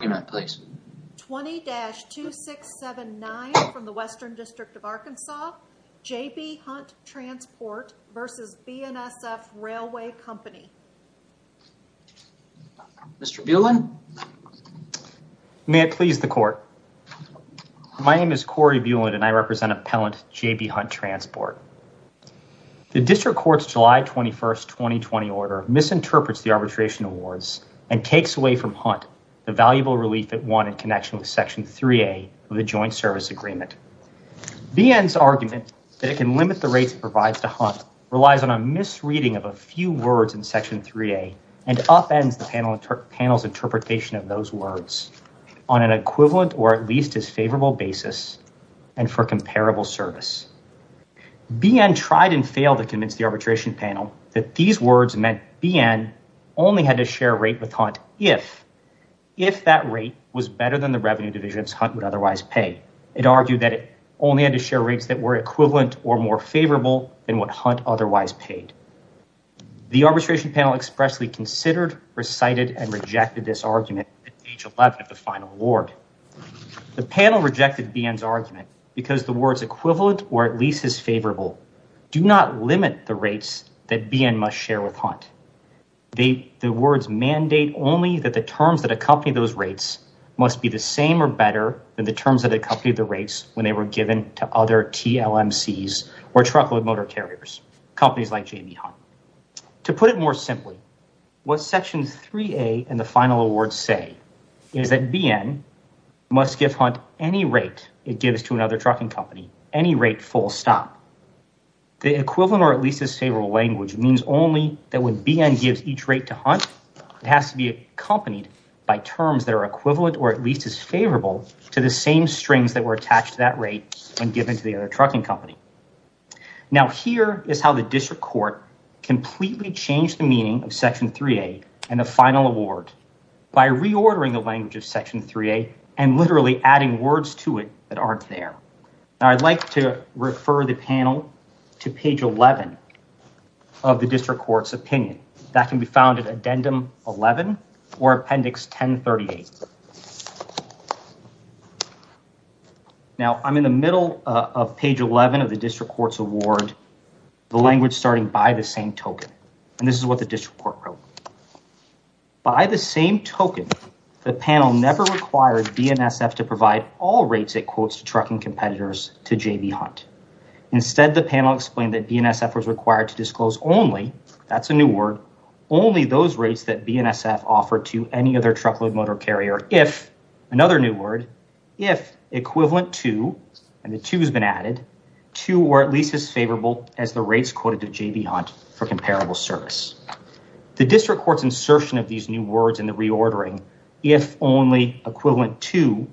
20-2679 from the Western District of Arkansas, J.B. Hunt Transport v. BNSF Railway Company Mr. Bueland? May it please the Court. My name is Corey Bueland and I represent Appellant J.B. Hunt Transport. The District Court's July 21, 2020 order misinterprets the arbitration awards and takes away from Hunt the valuable relief it won in connection with Section 3A of the Joint Service Agreement. BN's argument that it can limit the rates it provides to Hunt relies on a misreading of a few words in Section 3A and upends the panel's interpretation of those words on an equivalent or at least as favorable basis and for comparable service. BN tried and failed to convince the arbitration panel that these words meant BN only had to share a rate with Hunt if that rate was better than the revenue divisions Hunt would otherwise pay. It argued that it only had to share rates that were equivalent or more favorable than what Hunt otherwise paid. The arbitration panel expressly considered, recited, and rejected this argument at page 11 of the final award. The panel rejected BN's argument because the words equivalent or at least as favorable do not limit the rates that BN must share with Hunt. The words mandate only that the terms that accompany those rates must be the same or better than the terms that accompany the rates when they were given to other TLMCs or truckload motor carriers, companies like J.B. Hunt. To put it more simply, what Section 3A and the final award say is that BN must give Hunt any rate it gives to another trucking company, any rate full stop. The equivalent or at least as favorable language means only that when BN gives each rate to Hunt, it has to be accompanied by terms that are equivalent or at least as favorable to the same strings that were attached to that rate when given to the other trucking company. Now, here is how the district court completely changed the meaning of Section 3A and the final award by reordering the language of Section 3A and literally adding words to it that aren't there. Now, I'd like to refer the panel to page 11 of the district court's opinion. That can be found at addendum 11 or appendix 1038. Now, I'm in the middle of page 11 of the district court's award, the language starting by the same token, and this is what the district court wrote. By the same token, the panel never required BNSF to provide all rates it quotes trucking competitors to J.B. Hunt. Instead, the panel explained that BNSF was required to disclose only, that's a new word, only those rates that BNSF offered to any other truckload motor carrier if, another new word, if equivalent to, and the to has been added, to or at least as favorable as the rates quoted to J.B. Hunt for comparable service. The district court's insertion of these new words in the reordering, if only equivalent to,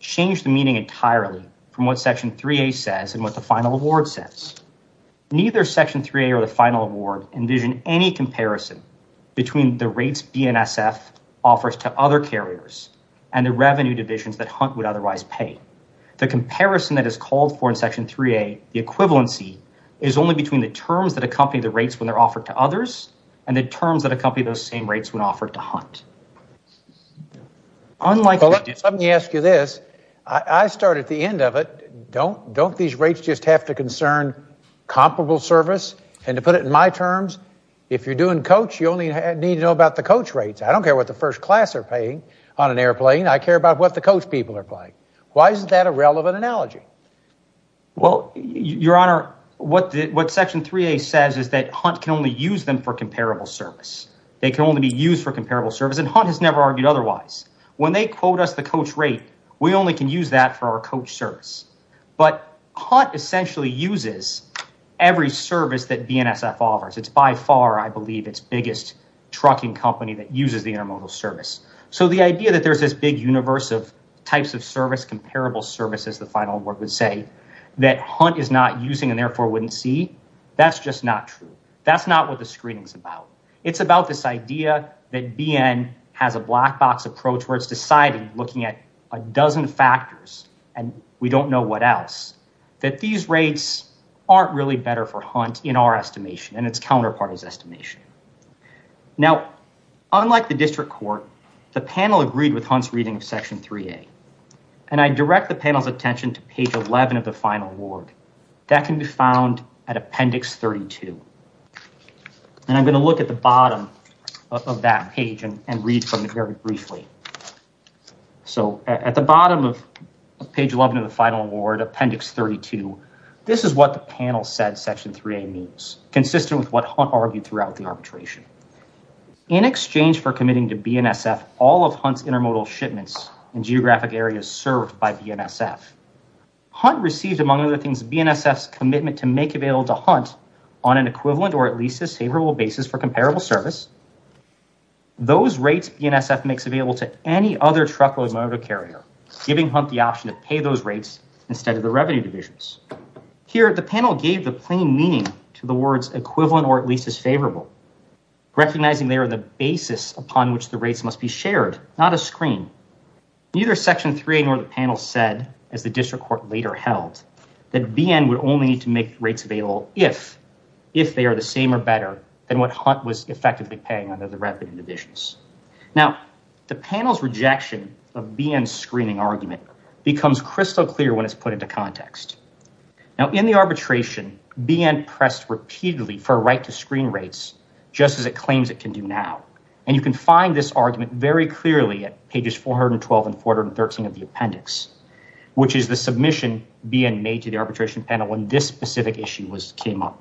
changed the meaning entirely from what Section 3A says and what the final award says. Neither Section 3A or the final award envision any comparison between the rates BNSF offers to other carriers and the revenue divisions that Hunt would otherwise pay. The comparison that is called for in Section 3A, the equivalency, is only between the terms that accompany the rates when they're offered to others and the terms that accompany those same rates when offered to Hunt. Well, Your Honor, what Section 3A says is that Hunt can only use them for comparable service. They can only be used for comparable service and Hunt has never argued otherwise. When they quote us the coach rate, we only can use that for our coach service. But Hunt essentially uses every service that BNSF offers. It's by far, I believe, its biggest trucking company that uses the intermodal service. So the idea that there's this big universe of types of service, comparable services, the final award would say, that Hunt is not using and therefore wouldn't see, that's just not true. That's not what the screening's about. It's about this idea that BN has a black box approach where it's deciding, looking at a dozen factors and we don't know what else, that these rates aren't really better for Hunt in our estimation and its counterpart is estimation. Now, unlike the district court, the panel agreed with Hunt's reading of Section 3A. And I direct the panel's attention to page 11 of the final award. That can be found at Appendix 32. And I'm going to look at the bottom of that page and read from it very briefly. So at the bottom of page 11 of the final award, Appendix 32, this is what the panel said Section 3A means, consistent with what Hunt argued throughout the arbitration. In exchange for committing to BNSF all of Hunt's intermodal shipments in geographic areas served by BNSF, Hunt received, among other things, BNSF's commitment to make available to Hunt on an equivalent or at least a favorable basis for comparable service. Those rates BNSF makes available to any other truckload motor carrier, giving Hunt the option to pay those rates instead of the revenue divisions. Here, the panel gave the plain meaning to the words equivalent or at least as favorable, recognizing they are the basis upon which the rates must be shared, not a screen. Neither Section 3A nor the panel said, as the district court later held, that BN would only need to make rates available if they are the same or better than what Hunt was effectively paying under the revenue divisions. Now, the panel's rejection of BN's screening argument becomes crystal clear when it's put into context. Now, in the arbitration, BN pressed repeatedly for a right to screen rates just as it claims it can do now. And you can find this argument very clearly at pages 412 and 413 of the appendix, which is the submission BN made to the arbitration panel when this specific issue came up.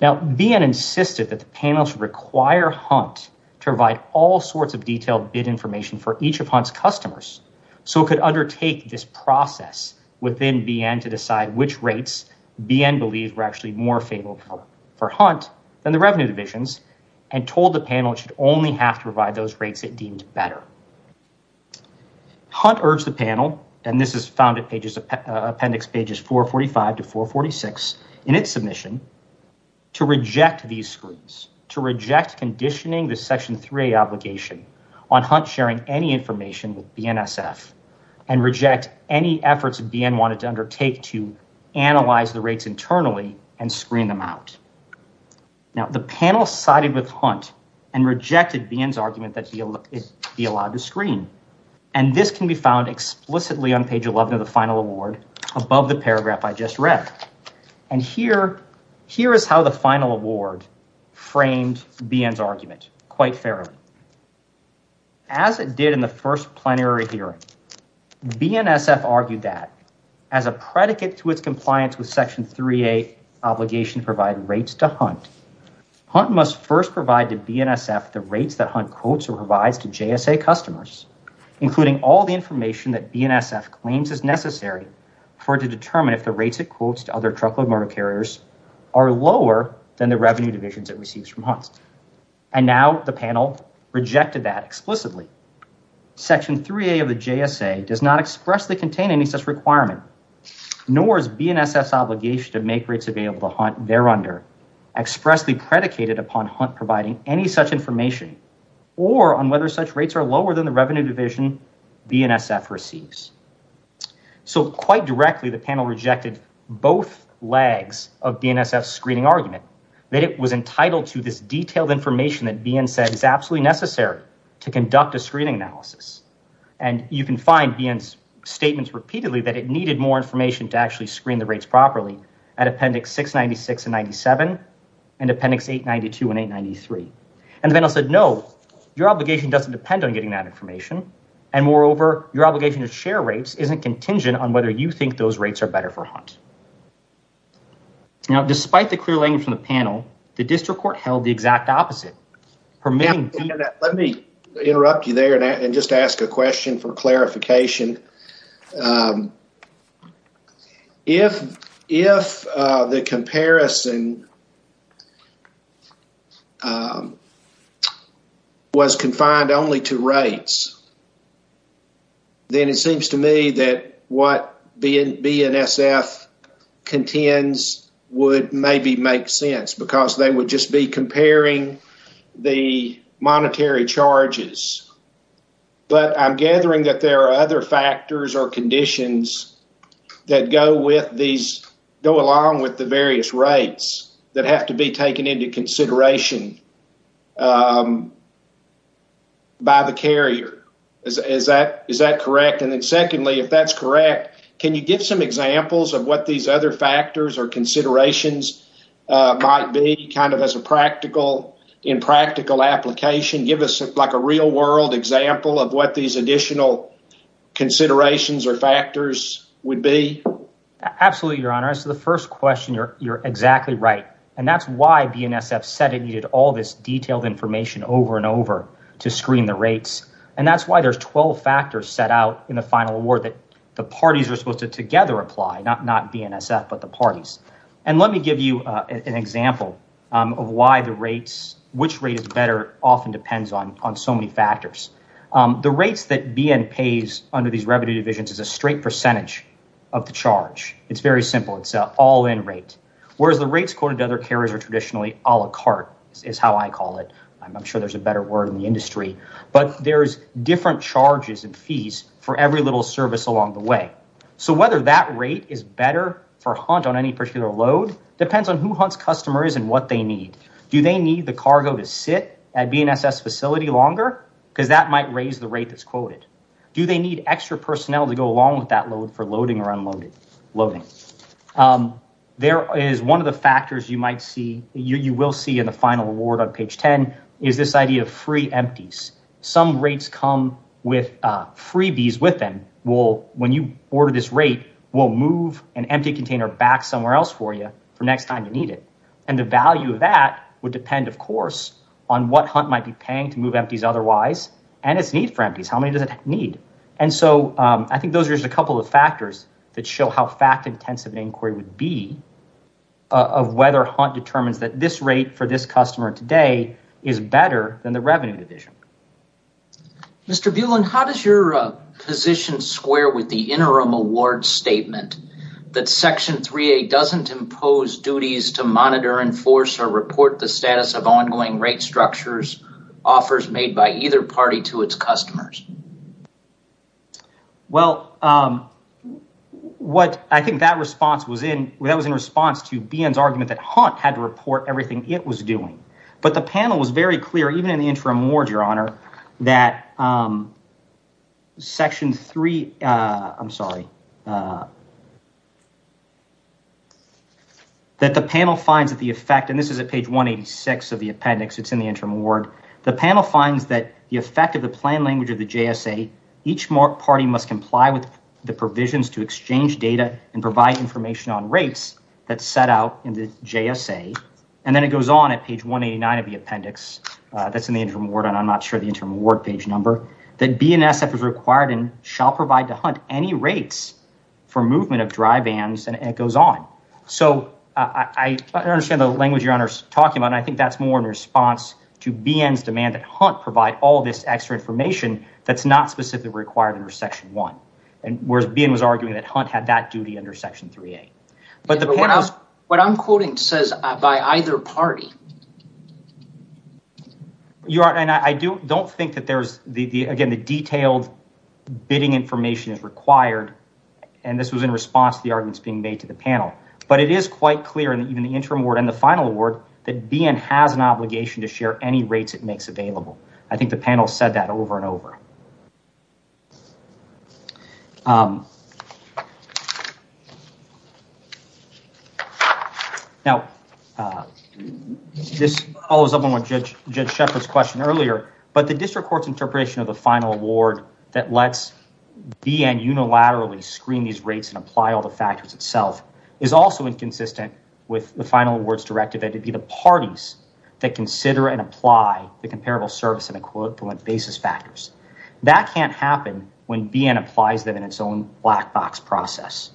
Now, BN insisted that the panel should require Hunt to provide all sorts of detailed bid information for each of Hunt's customers, so it could undertake this process within BN to decide which rates BN believed were actually more favorable for Hunt than the revenue divisions, and told the panel it should only have to provide those rates it deemed better. Hunt urged the panel, and this is found at appendix pages 445 to 446 in its submission, to reject these screens, to reject conditioning the Section 3A obligation on Hunt sharing any information with BNSF, and reject any efforts BN wanted to undertake to analyze the rates internally and screen them out. Now, the panel sided with Hunt and rejected BN's argument that it be allowed to screen, and this can be found explicitly on page 11 of the final award above the paragraph I just read. And here is how the final award framed BN's argument quite fairly. As it did in the first plenary hearing, BNSF argued that, as a predicate to its compliance with Section 3A obligation to provide rates to Hunt, Hunt must first provide to BNSF the rates that Hunt quotes or provides to JSA customers, including all the information that BNSF claims is necessary for it to determine if the rates it quotes to other truckload motor carriers are lower than the revenue divisions it receives from Hunt. And now the panel rejected that explicitly. Section 3A of the JSA does not expressly contain any such requirement, nor is BNSF's obligation to make rates available to Hunt thereunder expressly predicated upon Hunt providing any such information, or on whether such rates are lower than the revenue division BNSF receives. So quite directly, the panel rejected both legs of BNSF's screening argument, that it was entitled to this detailed information that BN said is absolutely necessary to conduct a screening analysis. And you can find BN's statements repeatedly that it needed more information to actually screen the rates properly at Appendix 696 and 97 and Appendix 892 and 893. And the panel said, no, your obligation doesn't depend on getting that information, and moreover, your obligation to share rates isn't contingent on whether you think those rates are better for Hunt. Now, despite the clear language from the panel, the district court held the exact opposite. Let me interrupt you there and just ask a question for clarification. If the comparison was confined only to rates, then it seems to me that what BNSF contends would maybe make sense, because they would just be comparing the monetary charges. But I'm gathering that there are other factors or conditions that go with these, go along with the various rates that have to be taken into consideration by the carrier. Is that correct? And then secondly, if that's correct, can you give some examples of what these other factors or considerations might be kind of as a practical, in practical application? Give us like a real world example of what these additional considerations or factors would be? Absolutely, Your Honor. So the first question, you're exactly right. And that's why BNSF said it needed all this detailed information over and over to screen the rates. And that's why there's 12 factors set out in the final award that the parties are supposed to together apply, not BNSF, but the parties. And let me give you an example of why the rates, which rate is better often depends on so many factors. The rates that BN pays under these revenue divisions is a straight percentage of the charge. It's very simple. It's all in rate, whereas the rates according to other carriers are traditionally a la carte is how I call it. I'm sure there's a better word in the industry, but there's different charges and fees for every little service along the way. So whether that rate is better for Hunt on any particular load depends on who Hunt's customer is and what they need. Do they need the cargo to sit at BNSF's facility longer? Because that might raise the rate that's quoted. Do they need extra personnel to go along with that load for loading or unloading? There is one of the factors you might see, you will see in the final award on page 10 is this idea of free empties. Some rates come with freebies with them. When you order this rate, we'll move an empty container back somewhere else for you for next time you need it. And the value of that would depend, of course, on what Hunt might be paying to move empties otherwise and its need for empties. How many does it need? And so I think those are just a couple of factors that show how fact intensive an inquiry would be of whether Hunt determines that this rate for this customer today is better than the revenue division. Mr. Bueland, how does your position square with the interim award statement that Section 3A doesn't impose duties to monitor, enforce, or report the status of ongoing rate structures offers made by either party to its customers? Well, what I think that response was in, that was in response to BN's argument that Hunt had to report everything it was doing. But the panel was very clear, even in the interim award, Your Honor, that Section 3, I'm sorry, that the panel finds that the effect, and this is at page 186 of the appendix, it's in the interim award. The panel finds that the effect of the plan language of the JSA, each party must comply with the provisions to exchange data and provide information on rates that set out in the JSA. And then it goes on at page 189 of the appendix that's in the interim award, and I'm not sure the interim award page number, that BNSF is required and shall provide to Hunt any rates for movement of dry vans, and it goes on. So I understand the language Your Honor's talking about, and I think that's more in response to BN's demand that Hunt provide all this extra information that's not specifically required under Section 1, whereas BN was arguing that Hunt had that duty under Section 3A. What I'm quoting says by either party. Your Honor, and I don't think that there's, again, the detailed bidding information is required, and this was in response to the arguments being made to the panel. But it is quite clear in the interim award and the final award that BN has an obligation to share any rates it makes available. I think the panel said that over and over. Now, this follows up on Judge Shepherd's question earlier, but the district court's interpretation of the final award that lets BN unilaterally screen these rates and apply all the factors itself is also inconsistent with the final awards directive. That would be the parties that consider and apply the comparable service and equivalent basis factors. That can't happen when BN applies them in its own black box process.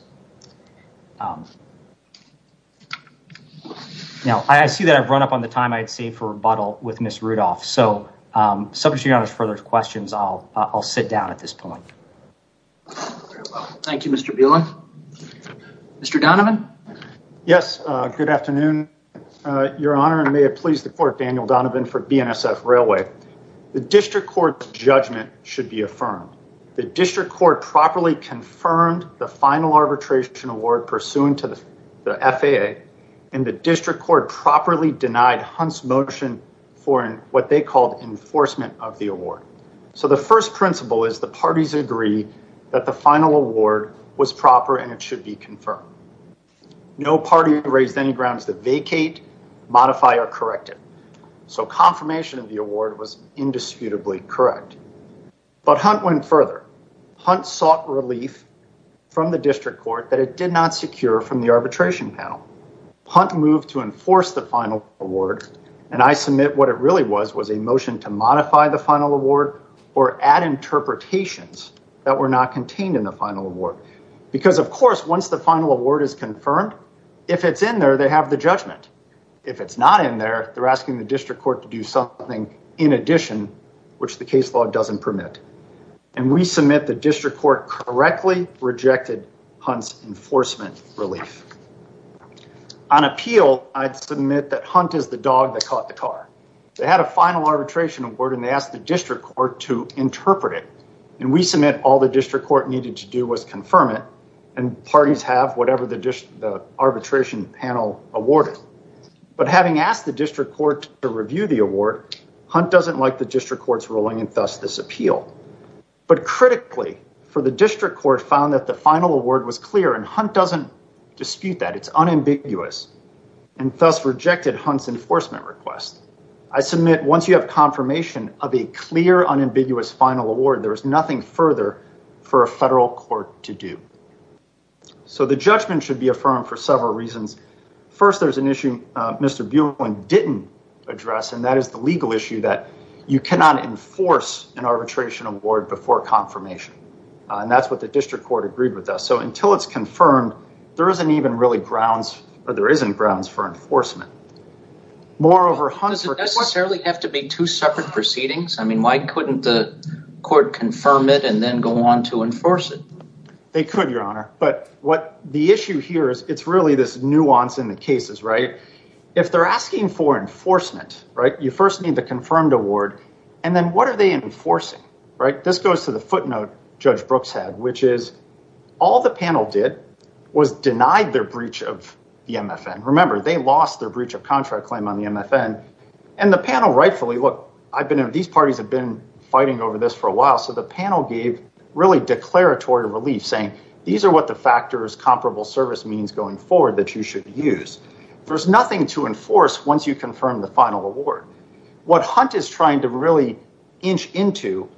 Now, I see that I've run up on the time I'd save for rebuttal with Ms. Rudolph. So, subject to Your Honor's further questions, I'll sit down at this point. Thank you, Mr. Bielan. Mr. Donovan? Yes, good afternoon, Your Honor, and may it please the court, Daniel Donovan for BNSF Railway. The district court's judgment should be affirmed. The district court properly confirmed the final arbitration award pursuant to the FAA, and the district court properly denied Hunt's motion for what they called enforcement of the award. So, the first principle is the parties agree that the final award was proper and it should be confirmed. No party raised any grounds to vacate, modify, or correct it. So, confirmation of the award was indisputably correct. But Hunt went further. Hunt sought relief from the district court that it did not secure from the arbitration panel. Hunt moved to enforce the final award, and I submit what it really was was a motion to modify the final award or add interpretations that were not contained in the final award. Because, of course, once the final award is confirmed, if it's in there, they have the judgment. If it's not in there, they're asking the district court to do something in addition, which the case law doesn't permit. And we submit the district court correctly rejected Hunt's enforcement relief. On appeal, I'd submit that Hunt is the dog that caught the car. They had a final arbitration award, and they asked the district court to interpret it. And we submit all the district court needed to do was confirm it, and parties have whatever the arbitration panel awarded. But having asked the district court to review the award, Hunt doesn't like the district court's ruling, and thus this appeal. But critically, for the district court found that the final award was clear, and Hunt doesn't dispute that. It's unambiguous, and thus rejected Hunt's enforcement request. I submit once you have confirmation of a clear, unambiguous final award, there is nothing further for a federal court to do. So the judgment should be affirmed for several reasons. First, there's an issue Mr. Buolin didn't address, and that is the legal issue that you cannot enforce an arbitration award before confirmation. And that's what the district court agreed with us. So until it's confirmed, there isn't grounds for enforcement. Does it necessarily have to be two separate proceedings? I mean, why couldn't the court confirm it and then go on to enforce it? They could, Your Honor, but what the issue here is, it's really this nuance in the cases, right? If they're asking for enforcement, right, you first need the confirmed award, and then what are they enforcing, right? This goes to the footnote Judge Brooks had, which is all the panel did was denied their breach of the MFN. Remember, they lost their breach of contract claim on the MFN. And the panel rightfully, look, these parties have been fighting over this for a while, so the panel gave really declaratory relief, saying these are what the factors comparable service means going forward that you should use. There's nothing to enforce once you confirm the final award. What Hunt is trying to really inch into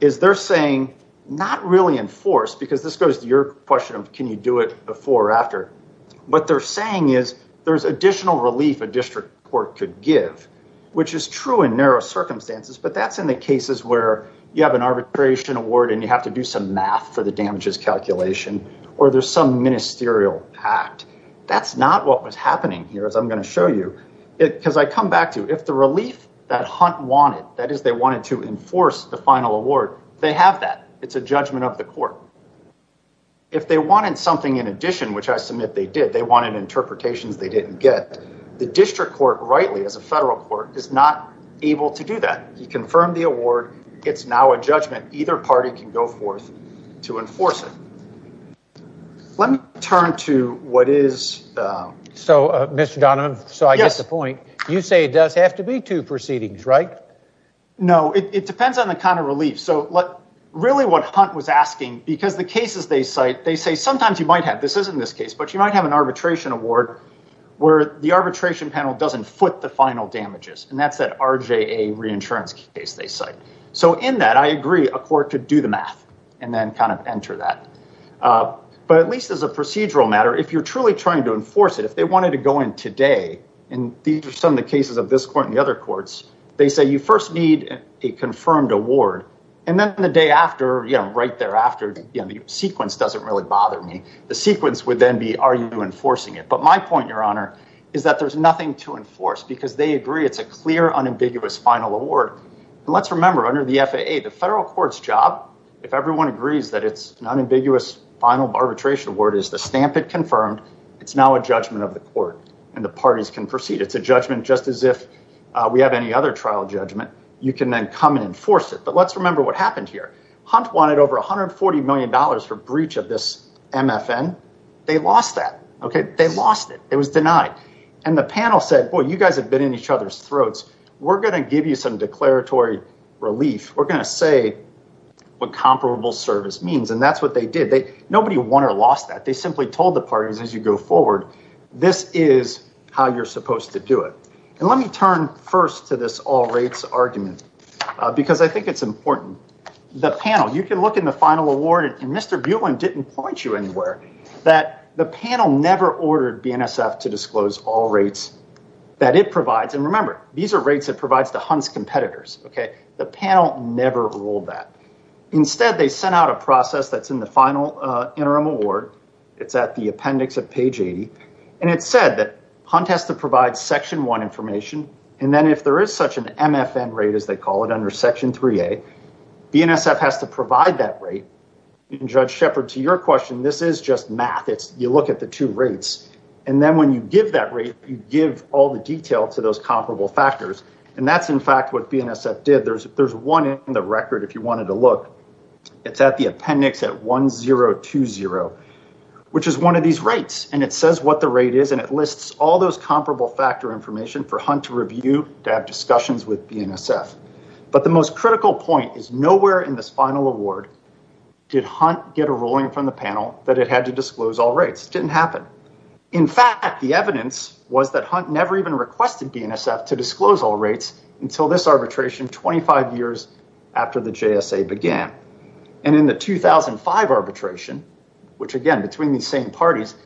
is they're saying not really enforce, because this goes to your question of can you do it before or after, but they're saying is there's additional relief a district court could give, which is true in narrow circumstances, but that's in the cases where you have an arbitration award and you have to do some math for the damages calculation, or there's some ministerial act. That's not what was happening here, as I'm going to show you, because I come back to if the relief that Hunt wanted, that is, they wanted to enforce the final award, they have that. It's a judgment of the court. If they wanted something in addition, which I submit they did, they wanted interpretations they didn't get, the district court rightly, as a federal court, is not able to do that. He confirmed the award. It's now a judgment. Either party can go forth to enforce it. Let me turn to what is... Mr. Donovan, I get the point. You say it does have to be two proceedings, right? No, it depends on the kind of relief. Really what Hunt was asking, because the cases they cite, they say sometimes you might have, this isn't this case, but you might have an arbitration award where the arbitration panel doesn't foot the final damages. And that's that RJA reinsurance case they cite. So in that, I agree, a court could do the math and then kind of enter that. But at least as a procedural matter, if you're truly trying to enforce it, if they wanted to go in today, and these are some of the cases of this court and the other courts, they say you first need a confirmed award. And then the day after, right thereafter, the sequence doesn't really bother me. The sequence would then be, are you enforcing it? But my point, Your Honor, is that there's nothing to enforce because they agree it's a clear, unambiguous final award. And let's remember, under the FAA, the federal court's job, if everyone agrees that it's an unambiguous final arbitration award, is to stamp it confirmed. It's now a judgment of the court and the parties can proceed. It's a judgment just as if we have any other trial judgment. You can then come and enforce it. But let's remember what happened here. Hunt wanted over $140 million for breach of this MFN. They lost that. OK, they lost it. It was denied. And the panel said, well, you guys have been in each other's throats. We're going to give you some declaratory relief. We're going to say what comparable service means. And that's what they did. Nobody won or lost that. They simply told the parties as you go forward, this is how you're supposed to do it. And let me turn first to this all rates argument, because I think it's important. The panel, you can look in the final award, and Mr. Bueland didn't point you anywhere, that the panel never ordered BNSF to disclose all rates that it provides. And remember, these are rates it provides to Hunt's competitors. OK, the panel never ruled that. Instead, they sent out a process that's in the final interim award. It's at the appendix of page 80. And it said that Hunt has to provide Section 1 information. And then if there is such an MFN rate, as they call it under Section 3A, BNSF has to provide that rate. And Judge Shepard, to your question, this is just math. You look at the two rates. And then when you give that rate, you give all the detail to those comparable factors. And that's, in fact, what BNSF did. There's one in the record, if you wanted to look. It's at the appendix at 1020, which is one of these rates. And it says what the rate is, and it lists all those comparable factor information for Hunt to review, to have discussions with BNSF. But the most critical point is nowhere in this final award did Hunt get a ruling from the panel that it had to disclose all rates. It didn't happen. In fact, the evidence was that Hunt never even requested BNSF to disclose all rates until this arbitration 25 years after the JSA began. And in the 2005 arbitration, which, again, between these same parties,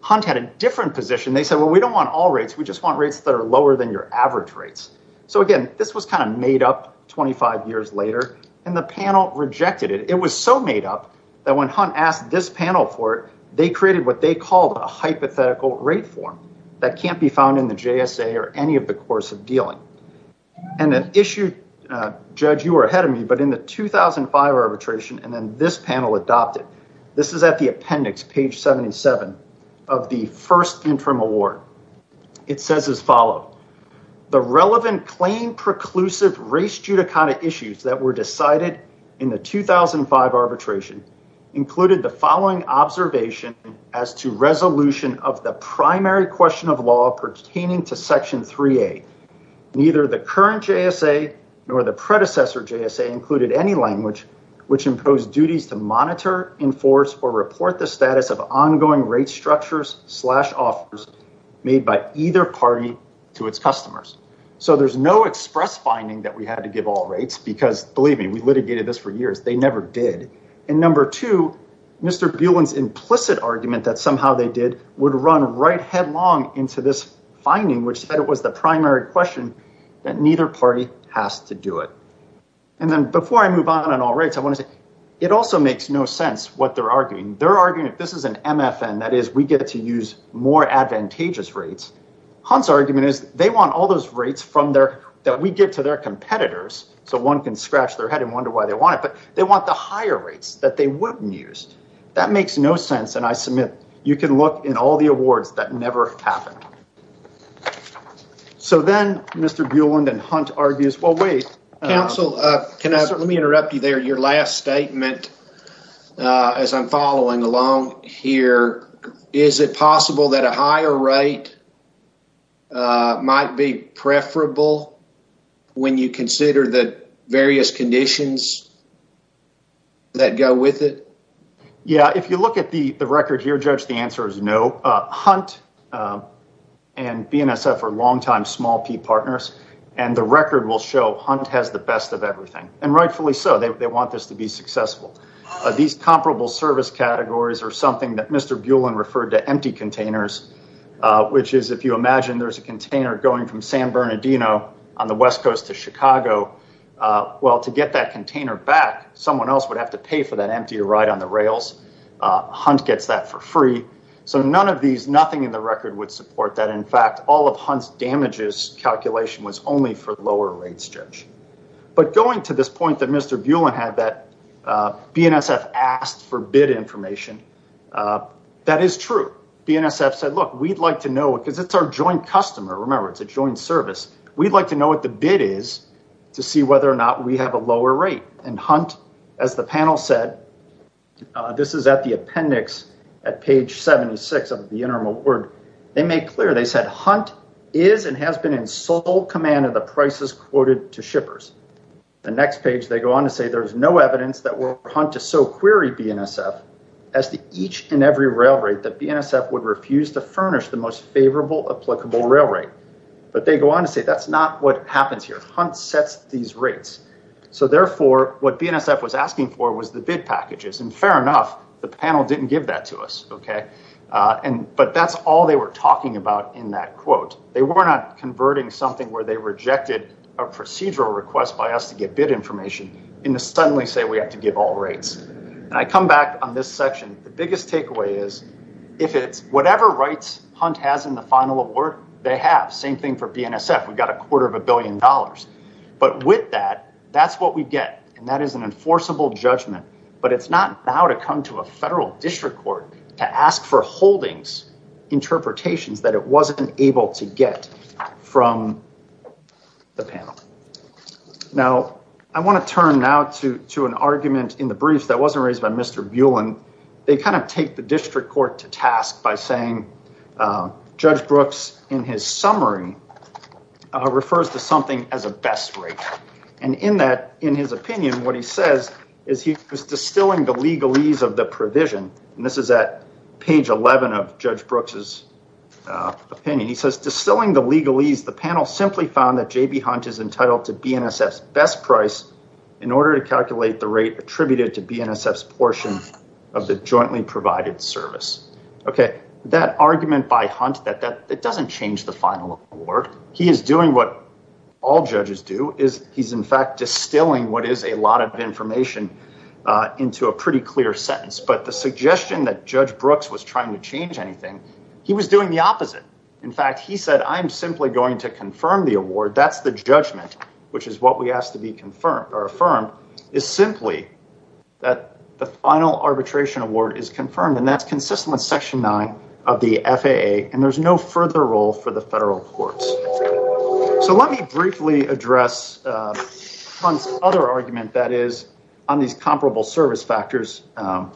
Hunt had a different position. They said, well, we don't want all rates. We just want rates that are lower than your average rates. So, again, this was kind of made up 25 years later, and the panel rejected it. It was so made up that when Hunt asked this panel for it, they created what they called a hypothetical rate form that can't be found in the JSA or any of the course of dealing. And an issue, Judge, you were ahead of me, but in the 2005 arbitration, and then this panel adopted, this is at the appendix, page 77 of the first interim award. It says as follows, the relevant claim preclusive race judicata issues that were decided in the 2005 arbitration included the following observation as to resolution of the primary question of law pertaining to Section 3A. Neither the current JSA nor the predecessor JSA included any language which imposed duties to monitor, enforce, or report the status of ongoing rate structures slash offers made by either party to its customers. So there's no express finding that we had to give all rates because, believe me, we litigated this for years. And number two, Mr. Bulan's implicit argument that somehow they did would run right headlong into this finding, which said it was the primary question that neither party has to do it. And then before I move on and all rates, I want to say it also makes no sense what they're arguing. They're arguing that this is an MFN. That is, we get to use more advantageous rates. Hunt's argument is they want all those rates that we give to their competitors so one can scratch their head and wonder why they want it. But they want the higher rates that they wouldn't use. That makes no sense. And I submit you can look in all the awards. That never happened. So then Mr. Bulan and Hunt argues, well, wait. Counsel, let me interrupt you there. Your last statement, as I'm following along here, is it possible that a higher rate might be preferable when you consider the various conditions that go with it? Yeah, if you look at the record here, Judge, the answer is no. Hunt and BNSF are longtime small P partners. And the record will show Hunt has the best of everything. And rightfully so. They want this to be successful. These comparable service categories are something that Mr. Bulan referred to empty containers, which is if you imagine there's a container going from San Bernardino on the west coast to Chicago. Well, to get that container back, someone else would have to pay for that empty ride on the rails. Hunt gets that for free. So none of these, nothing in the record would support that. In fact, all of Hunt's damages calculation was only for lower rates, Judge. But going to this point that Mr. Bulan had, that BNSF asked for bid information, that is true. BNSF said, look, we'd like to know, because it's our joint customer. Remember, it's a joint service. We'd like to know what the bid is to see whether or not we have a lower rate. And Hunt, as the panel said, this is at the appendix at page 76 of the interim award. They made clear, they said Hunt is and has been in sole command of the prices quoted to shippers. The next page they go on to say there's no evidence that were Hunt to so query BNSF as to each and every rail rate that BNSF would refuse to furnish the most favorable applicable rail rate. But they go on to say that's not what happens here. Hunt sets these rates. So, therefore, what BNSF was asking for was the bid packages. And fair enough, the panel didn't give that to us. Okay. But that's all they were talking about in that quote. They were not converting something where they rejected a procedural request by us to get bid information and to suddenly say we have to give all rates. And I come back on this section. The biggest takeaway is if it's whatever rights Hunt has in the final award, they have. Same thing for BNSF. We've got a quarter of a billion dollars. But with that, that's what we get. And that is an enforceable judgment. But it's not now to come to a federal district court to ask for holdings interpretations that it wasn't able to get from the panel. Now, I want to turn now to an argument in the briefs that wasn't raised by Mr. Bueland. They kind of take the district court to task by saying Judge Brooks in his summary refers to something as a best rate. And in that, in his opinion, what he says is he was distilling the legalese of the provision. And this is at page 11 of Judge Brooks' opinion. He says distilling the legalese. The panel simply found that J.B. Hunt is entitled to BNSF's best price in order to calculate the rate attributed to BNSF's portion of the jointly provided service. OK, that argument by Hunt that that doesn't change the final award. He is doing what all judges do is he's, in fact, distilling what is a lot of information into a pretty clear sentence. But the suggestion that Judge Brooks was trying to change anything, he was doing the opposite. In fact, he said, I am simply going to confirm the award. That's the judgment, which is what we asked to be confirmed or affirmed is simply that the final arbitration award is confirmed. And that's consistent with Section 9 of the FAA. And there's no further role for the federal courts. So let me briefly address Hunt's other argument that is on these comparable service factors. Mr.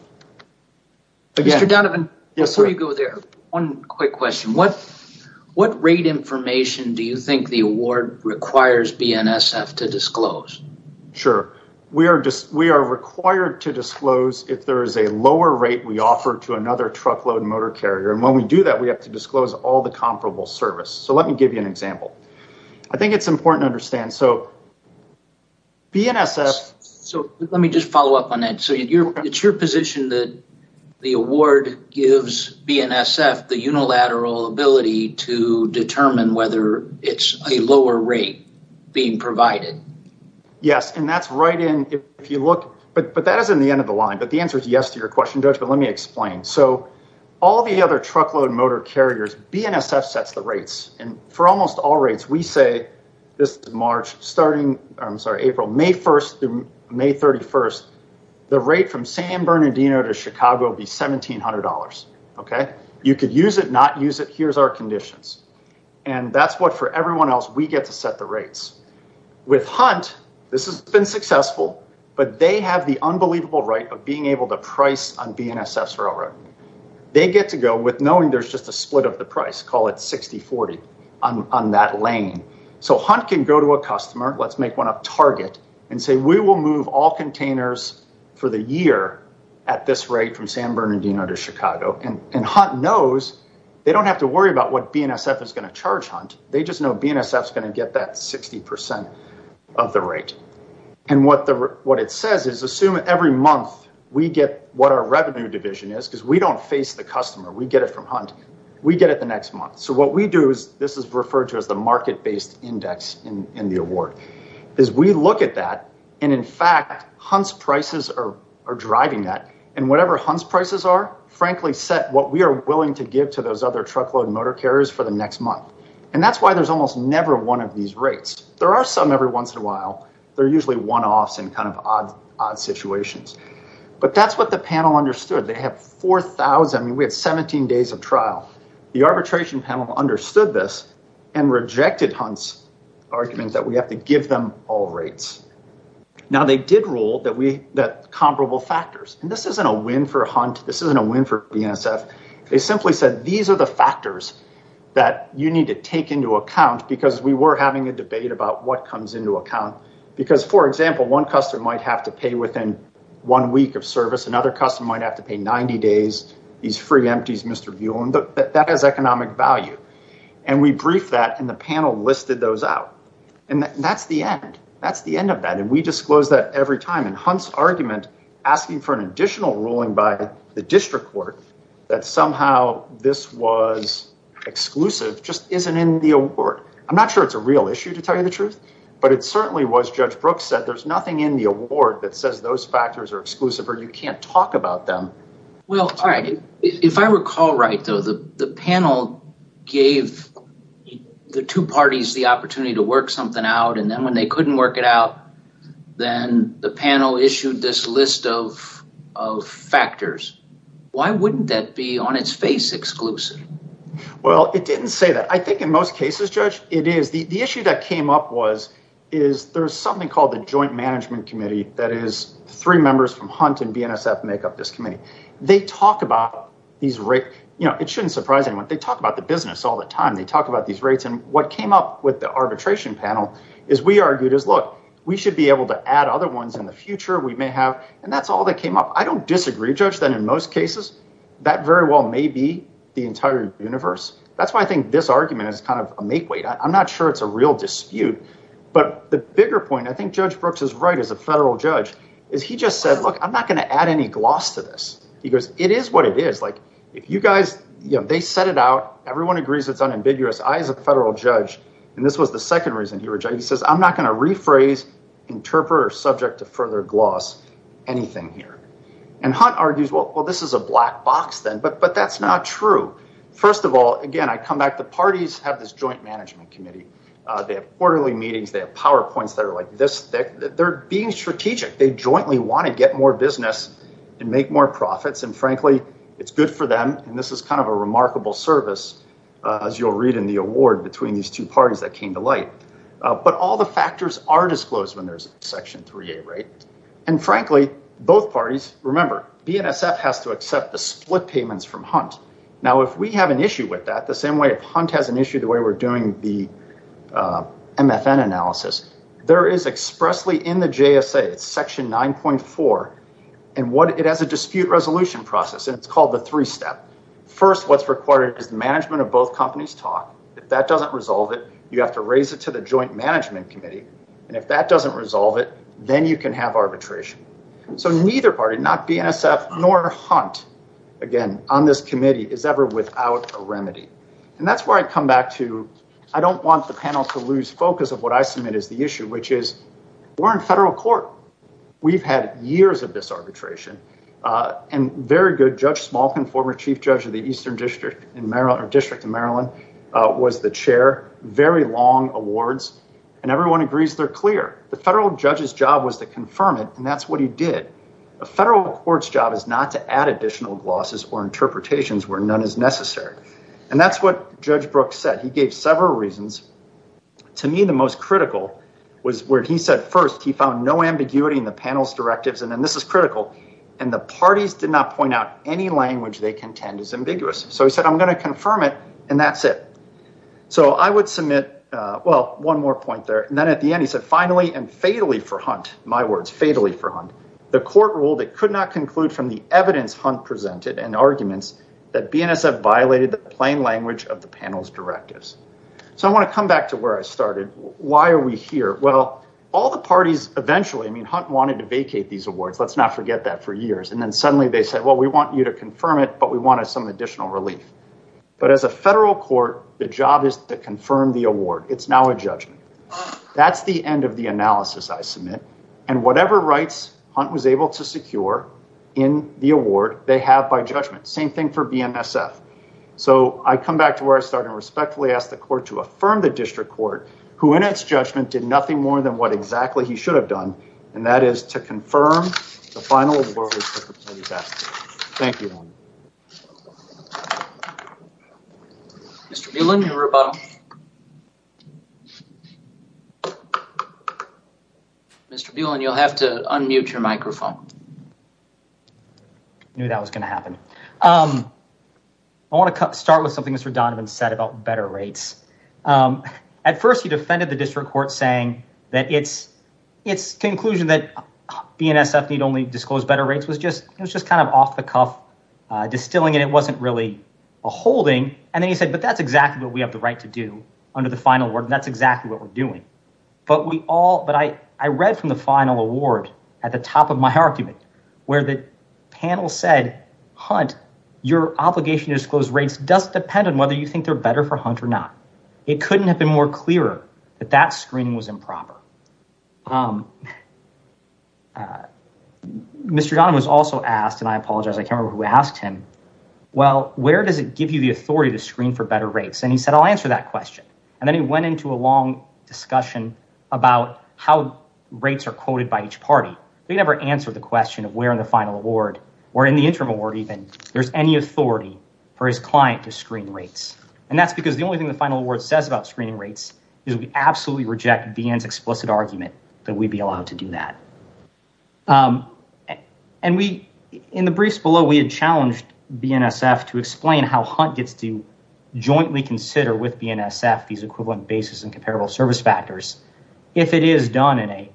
Donovan, before you go there, one quick question. What rate information do you think the award requires BNSF to disclose? Sure. We are required to disclose if there is a lower rate we offer to another truckload motor carrier. And when we do that, we have to disclose all the comparable service. So let me give you an example. I think it's important to understand. So BNSF. So let me just follow up on that. So it's your position that the award gives BNSF the unilateral ability to determine whether it's a lower rate being provided. Yes. And that's right in if you look. But that is in the end of the line. But the answer is yes to your question, Judge. But let me explain. So all the other truckload motor carriers, BNSF sets the rates. And for almost all rates, we say this is March. Starting, I'm sorry, April, May 1st through May 31st, the rate from San Bernardino to Chicago would be $1,700. Okay. You could use it, not use it. Here's our conditions. And that's what for everyone else we get to set the rates. With Hunt, this has been successful. But they have the unbelievable right of being able to price on BNSF's railroad. They get to go with knowing there's just a split of the price, call it 60-40 on that lane. So Hunt can go to a customer, let's make one up, Target, and say we will move all containers for the year at this rate from San Bernardino to Chicago. And Hunt knows they don't have to worry about what BNSF is going to charge Hunt. They just know BNSF is going to get that 60% of the rate. And what it says is assume every month we get what our revenue division is because we don't face the customer. We get it from Hunt. We get it the next month. So what we do is this is referred to as the market-based index in the award. As we look at that, and, in fact, Hunt's prices are driving that. And whatever Hunt's prices are, frankly, set what we are willing to give to those other truckload motor carriers for the next month. And that's why there's almost never one of these rates. There are some every once in a while. They're usually one-offs in kind of odd situations. But that's what the panel understood. They have 4,000. We have 17 days of trial. The arbitration panel understood this and rejected Hunt's argument that we have to give them all rates. Now, they did rule that comparable factors. And this isn't a win for Hunt. This isn't a win for BNSF. They simply said these are the factors that you need to take into account because we were having a debate about what comes into account. Because, for example, one customer might have to pay within one week of service. Another customer might have to pay 90 days. These free empties, Mr. Buellen. That has economic value. And we briefed that, and the panel listed those out. And that's the end. That's the end of that. And we disclose that every time. And Hunt's argument asking for an additional ruling by the district court that somehow this was exclusive just isn't in the award. I'm not sure it's a real issue, to tell you the truth. But it certainly was, Judge Brooks said, there's nothing in the award that says those factors are exclusive or you can't talk about them. Well, all right. If I recall right, though, the panel gave the two parties the opportunity to work something out. And then when they couldn't work it out, then the panel issued this list of factors. Why wouldn't that be on its face exclusive? Well, it didn't say that. I think in most cases, Judge, it is. The issue that came up was is there's something called the Joint Management Committee that is three members from Hunt and BNSF make up this committee. They talk about these rates. You know, it shouldn't surprise anyone. They talk about the business all the time. They talk about these rates. And what came up with the arbitration panel is we argued is, look, we should be able to add other ones in the future. We may have. And that's all that came up. I don't disagree, Judge, that in most cases that very well may be the entire universe. That's why I think this argument is kind of a makeweight. I'm not sure it's a real dispute. But the bigger point, I think Judge Brooks is right as a federal judge, is he just said, look, I'm not going to add any gloss to this. He goes, it is what it is. Like, if you guys, you know, they set it out. Everyone agrees it's unambiguous. I, as a federal judge, and this was the second reason he said, he says, I'm not going to rephrase, interpret, or subject to further gloss anything here. And Hunt argues, well, this is a black box then. But that's not true. First of all, again, I come back, the parties have this joint management committee. They have quarterly meetings. They have PowerPoints that are like this thick. They're being strategic. They jointly want to get more business and make more profits. And, frankly, it's good for them. And this is kind of a remarkable service, as you'll read in the award, between these two parties that came to light. But all the factors are disclosed when there's Section 3A, right? And, frankly, both parties, remember, BNSF has to accept the split payments from Hunt. Now, if we have an issue with that, the same way if Hunt has an issue the way we're doing the MFN analysis, there is expressly in the JSA, it's Section 9.4, and it has a dispute resolution process. And it's called the three-step. First, what's required is the management of both companies talk. If that doesn't resolve it, you have to raise it to the joint management committee. And if that doesn't resolve it, then you can have arbitration. So neither party, not BNSF nor Hunt, again, on this committee, is ever without a remedy. And that's where I come back to I don't want the panel to lose focus of what I submit as the issue, which is we're in federal court. We've had years of disarbitration. And very good Judge Smalkin, former chief judge of the Eastern District in Maryland or District of Maryland, was the chair. Very long awards. And everyone agrees they're clear. The federal judge's job was to confirm it, and that's what he did. A federal court's job is not to add additional glosses or interpretations where none is necessary. And that's what Judge Brooks said. He gave several reasons. To me, the most critical was where he said first he found no ambiguity in the panel's directives, and then this is critical, and the parties did not point out any language they contend is ambiguous. So he said, I'm going to confirm it, and that's it. So I would submit, well, one more point there. And then at the end, he said, finally and fatally for Hunt, my words, fatally for Hunt, the court ruled it could not conclude from the evidence Hunt presented and arguments that BNSF violated the plain language of the panel's directives. So I want to come back to where I started. Why are we here? Well, all the parties eventually, I mean, Hunt wanted to vacate these awards. Let's not forget that for years. And then suddenly they said, well, we want you to confirm it, but we wanted some additional relief. That's the end of the analysis I submit. And whatever rights Hunt was able to secure in the award, they have by judgment. Same thing for BNSF. So I come back to where I started and respectfully ask the court to affirm the district court who in its judgment did nothing more than what exactly he should have done, and that is to confirm the final award. Thank you. Mr. Buelan, you'll have to unmute your microphone. I knew that was going to happen. I want to start with something Mr. Donovan said about better rates. At first he defended the district court saying that its conclusion that BNSF need only disclose better rates was just kind of off the cuff, distilling it. It wasn't really a holding. And then he said, but that's exactly what we have the right to do under the final word. That's exactly what we're doing. But I read from the final award at the top of my argument where the panel said, Hunt, your obligation to disclose rates does depend on whether you think they're better for Hunt or not. It couldn't have been more clearer that that screening was improper. Mr. Donovan was also asked, and I apologize, I can't remember who asked him, well, where does it give you the authority to screen for better rates? And he said, I'll answer that question. And then he went into a long discussion about how rates are quoted by each party. They never answered the question of where in the final award or in the interim award even, there's any authority for his client to screen rates. And that's because the only thing the final award says about screening rates is we absolutely reject BN's explicit argument that we'd be allowed to do that. And we, in the briefs below, we had challenged BNSF to explain how Hunt gets to jointly consider with BNSF these equivalent basis and comparable service factors. If it is done in a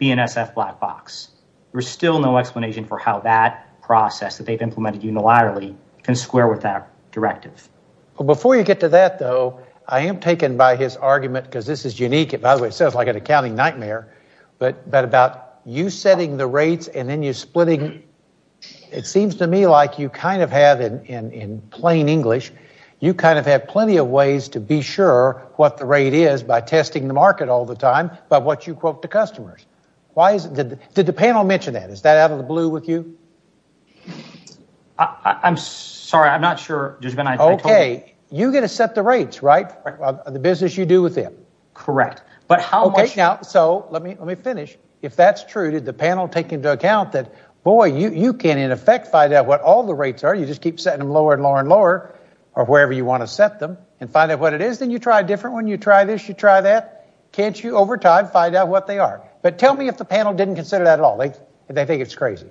BNSF black box, there's still no explanation for how that process that they've implemented unilaterally can square with that directive. Well, before you get to that, though, I am taken by his argument, because this is unique, by the way, it sounds like an accounting nightmare, but about you setting the rates and then you splitting, it seems to me like you kind of have, in plain English, you kind of have plenty of ways to be sure what the rate is by testing the market all the time by what you quote the customers. Why is it, did the panel mention that? Is that out of the blue with you? I'm sorry. I'm not sure. OK. You get to set the rates, right? The business you do with them. Correct. But how much... OK, now, so let me finish. If that's true, did the panel take into account that, boy, you can, in effect, find out what all the rates are. You just keep setting them lower and lower and lower or wherever you want to set them and find out what it is. Then you try a different one. You try this, you try that. Can't you, over time, find out what they are? But tell me if the panel didn't consider that at all. They think it's crazy.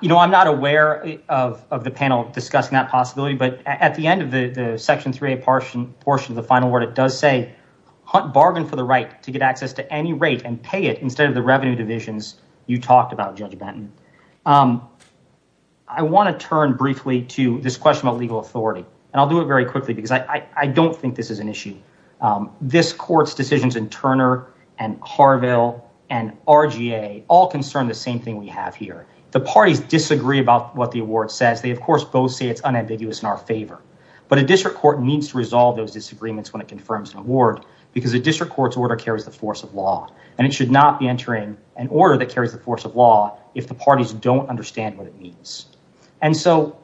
You know, I'm not aware of the panel discussing that possibility. But at the end of the Section 3A portion of the final word, it does say, bargain for the right to get access to any rate and pay it instead of the revenue divisions you talked about, Judge Benton. I want to turn briefly to this question of legal authority. And I'll do it very quickly because I don't think this is an issue. This court's decisions in Turner and Harville and RGA all concern the same thing we have here. The parties disagree about what the award says. They, of course, both say it's unambiguous in our favor. But a district court needs to resolve those disagreements when it confirms an award because a district court's order carries the force of law. And it should not be entering an order that carries the force of law if the parties don't understand what it means. And so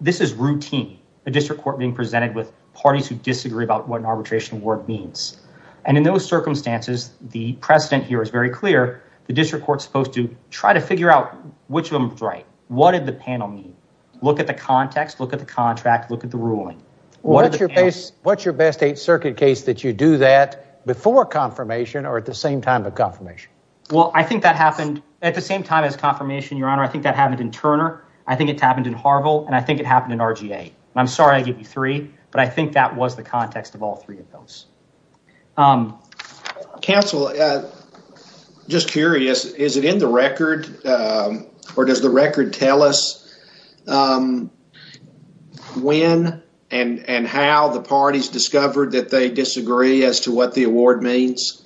this is routine, a district court being presented with parties who disagree about what an arbitration award means. And in those circumstances, the precedent here is very clear. The district court's supposed to try to figure out which of them is right. What did the panel mean? Look at the context, look at the contract, look at the ruling. What's your best Eighth Circuit case that you do that before confirmation or at the same time of confirmation? Well, I think that happened at the same time as confirmation, Your Honor. I think that happened in Turner. I think it happened in Harville and I think it happened in RGA. I'm sorry I gave you three, but I think that was the context of all three of those. Counsel, just curious, is it in the record or does the record tell us when and how the parties discovered that they disagree as to what the award means?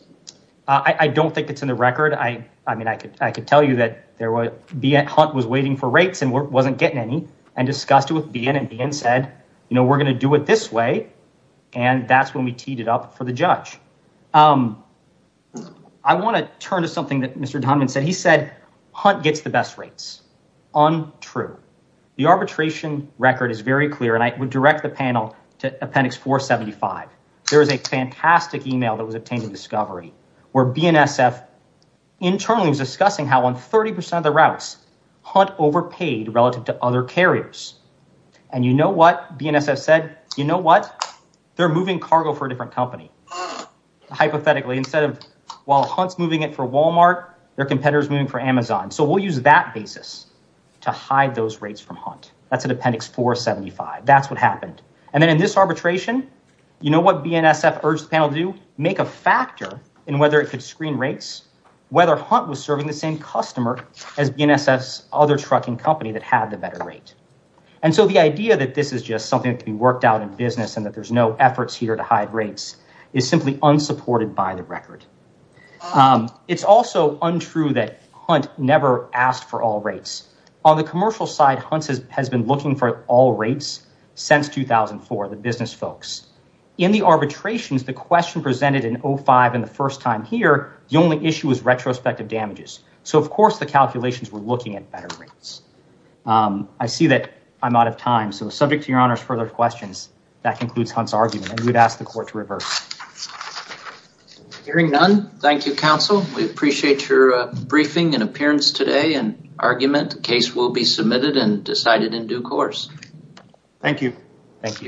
I don't think it's in the record. I mean, I could I could tell you that there would be at Hunt was waiting for rates and wasn't getting any and discussed it with BN and BN said, you know, we're going to do it this way. And that's when we teed it up for the judge. I want to turn to something that Mr. Donovan said. He said Hunt gets the best rates on. True. The arbitration record is very clear. And I would direct the panel to Appendix 475. There is a fantastic email that was obtained in discovery where BNSF internally was discussing how on 30 percent of the routes Hunt overpaid relative to other carriers. And you know what BNSF said? You know what? They're moving cargo for a different company. Hypothetically, instead of while Hunt's moving it for Walmart, their competitors moving for Amazon. So we'll use that basis to hide those rates from Hunt. That's an appendix 475. That's what happened. And then in this arbitration, you know what BNSF urged the panel to do? Make a factor in whether it could screen rates, whether Hunt was serving the same customer as BNSF's other trucking company that had the better rate. And so the idea that this is just something that can be worked out in business and that there's no efforts here to hide rates is simply unsupported by the record. It's also untrue that Hunt never asked for all rates. On the commercial side, Hunt has been looking for all rates since 2004, the business folks. In the arbitrations, the question presented in 05 and the first time here, the only issue was retrospective damages. So, of course, the calculations were looking at better rates. I see that I'm out of time. So subject to your honor's further questions, that concludes Hunt's argument. We would ask the court to reverse. Hearing none. Thank you, counsel. We appreciate your briefing and appearance today and argument. The case will be submitted and decided in due course. Thank you.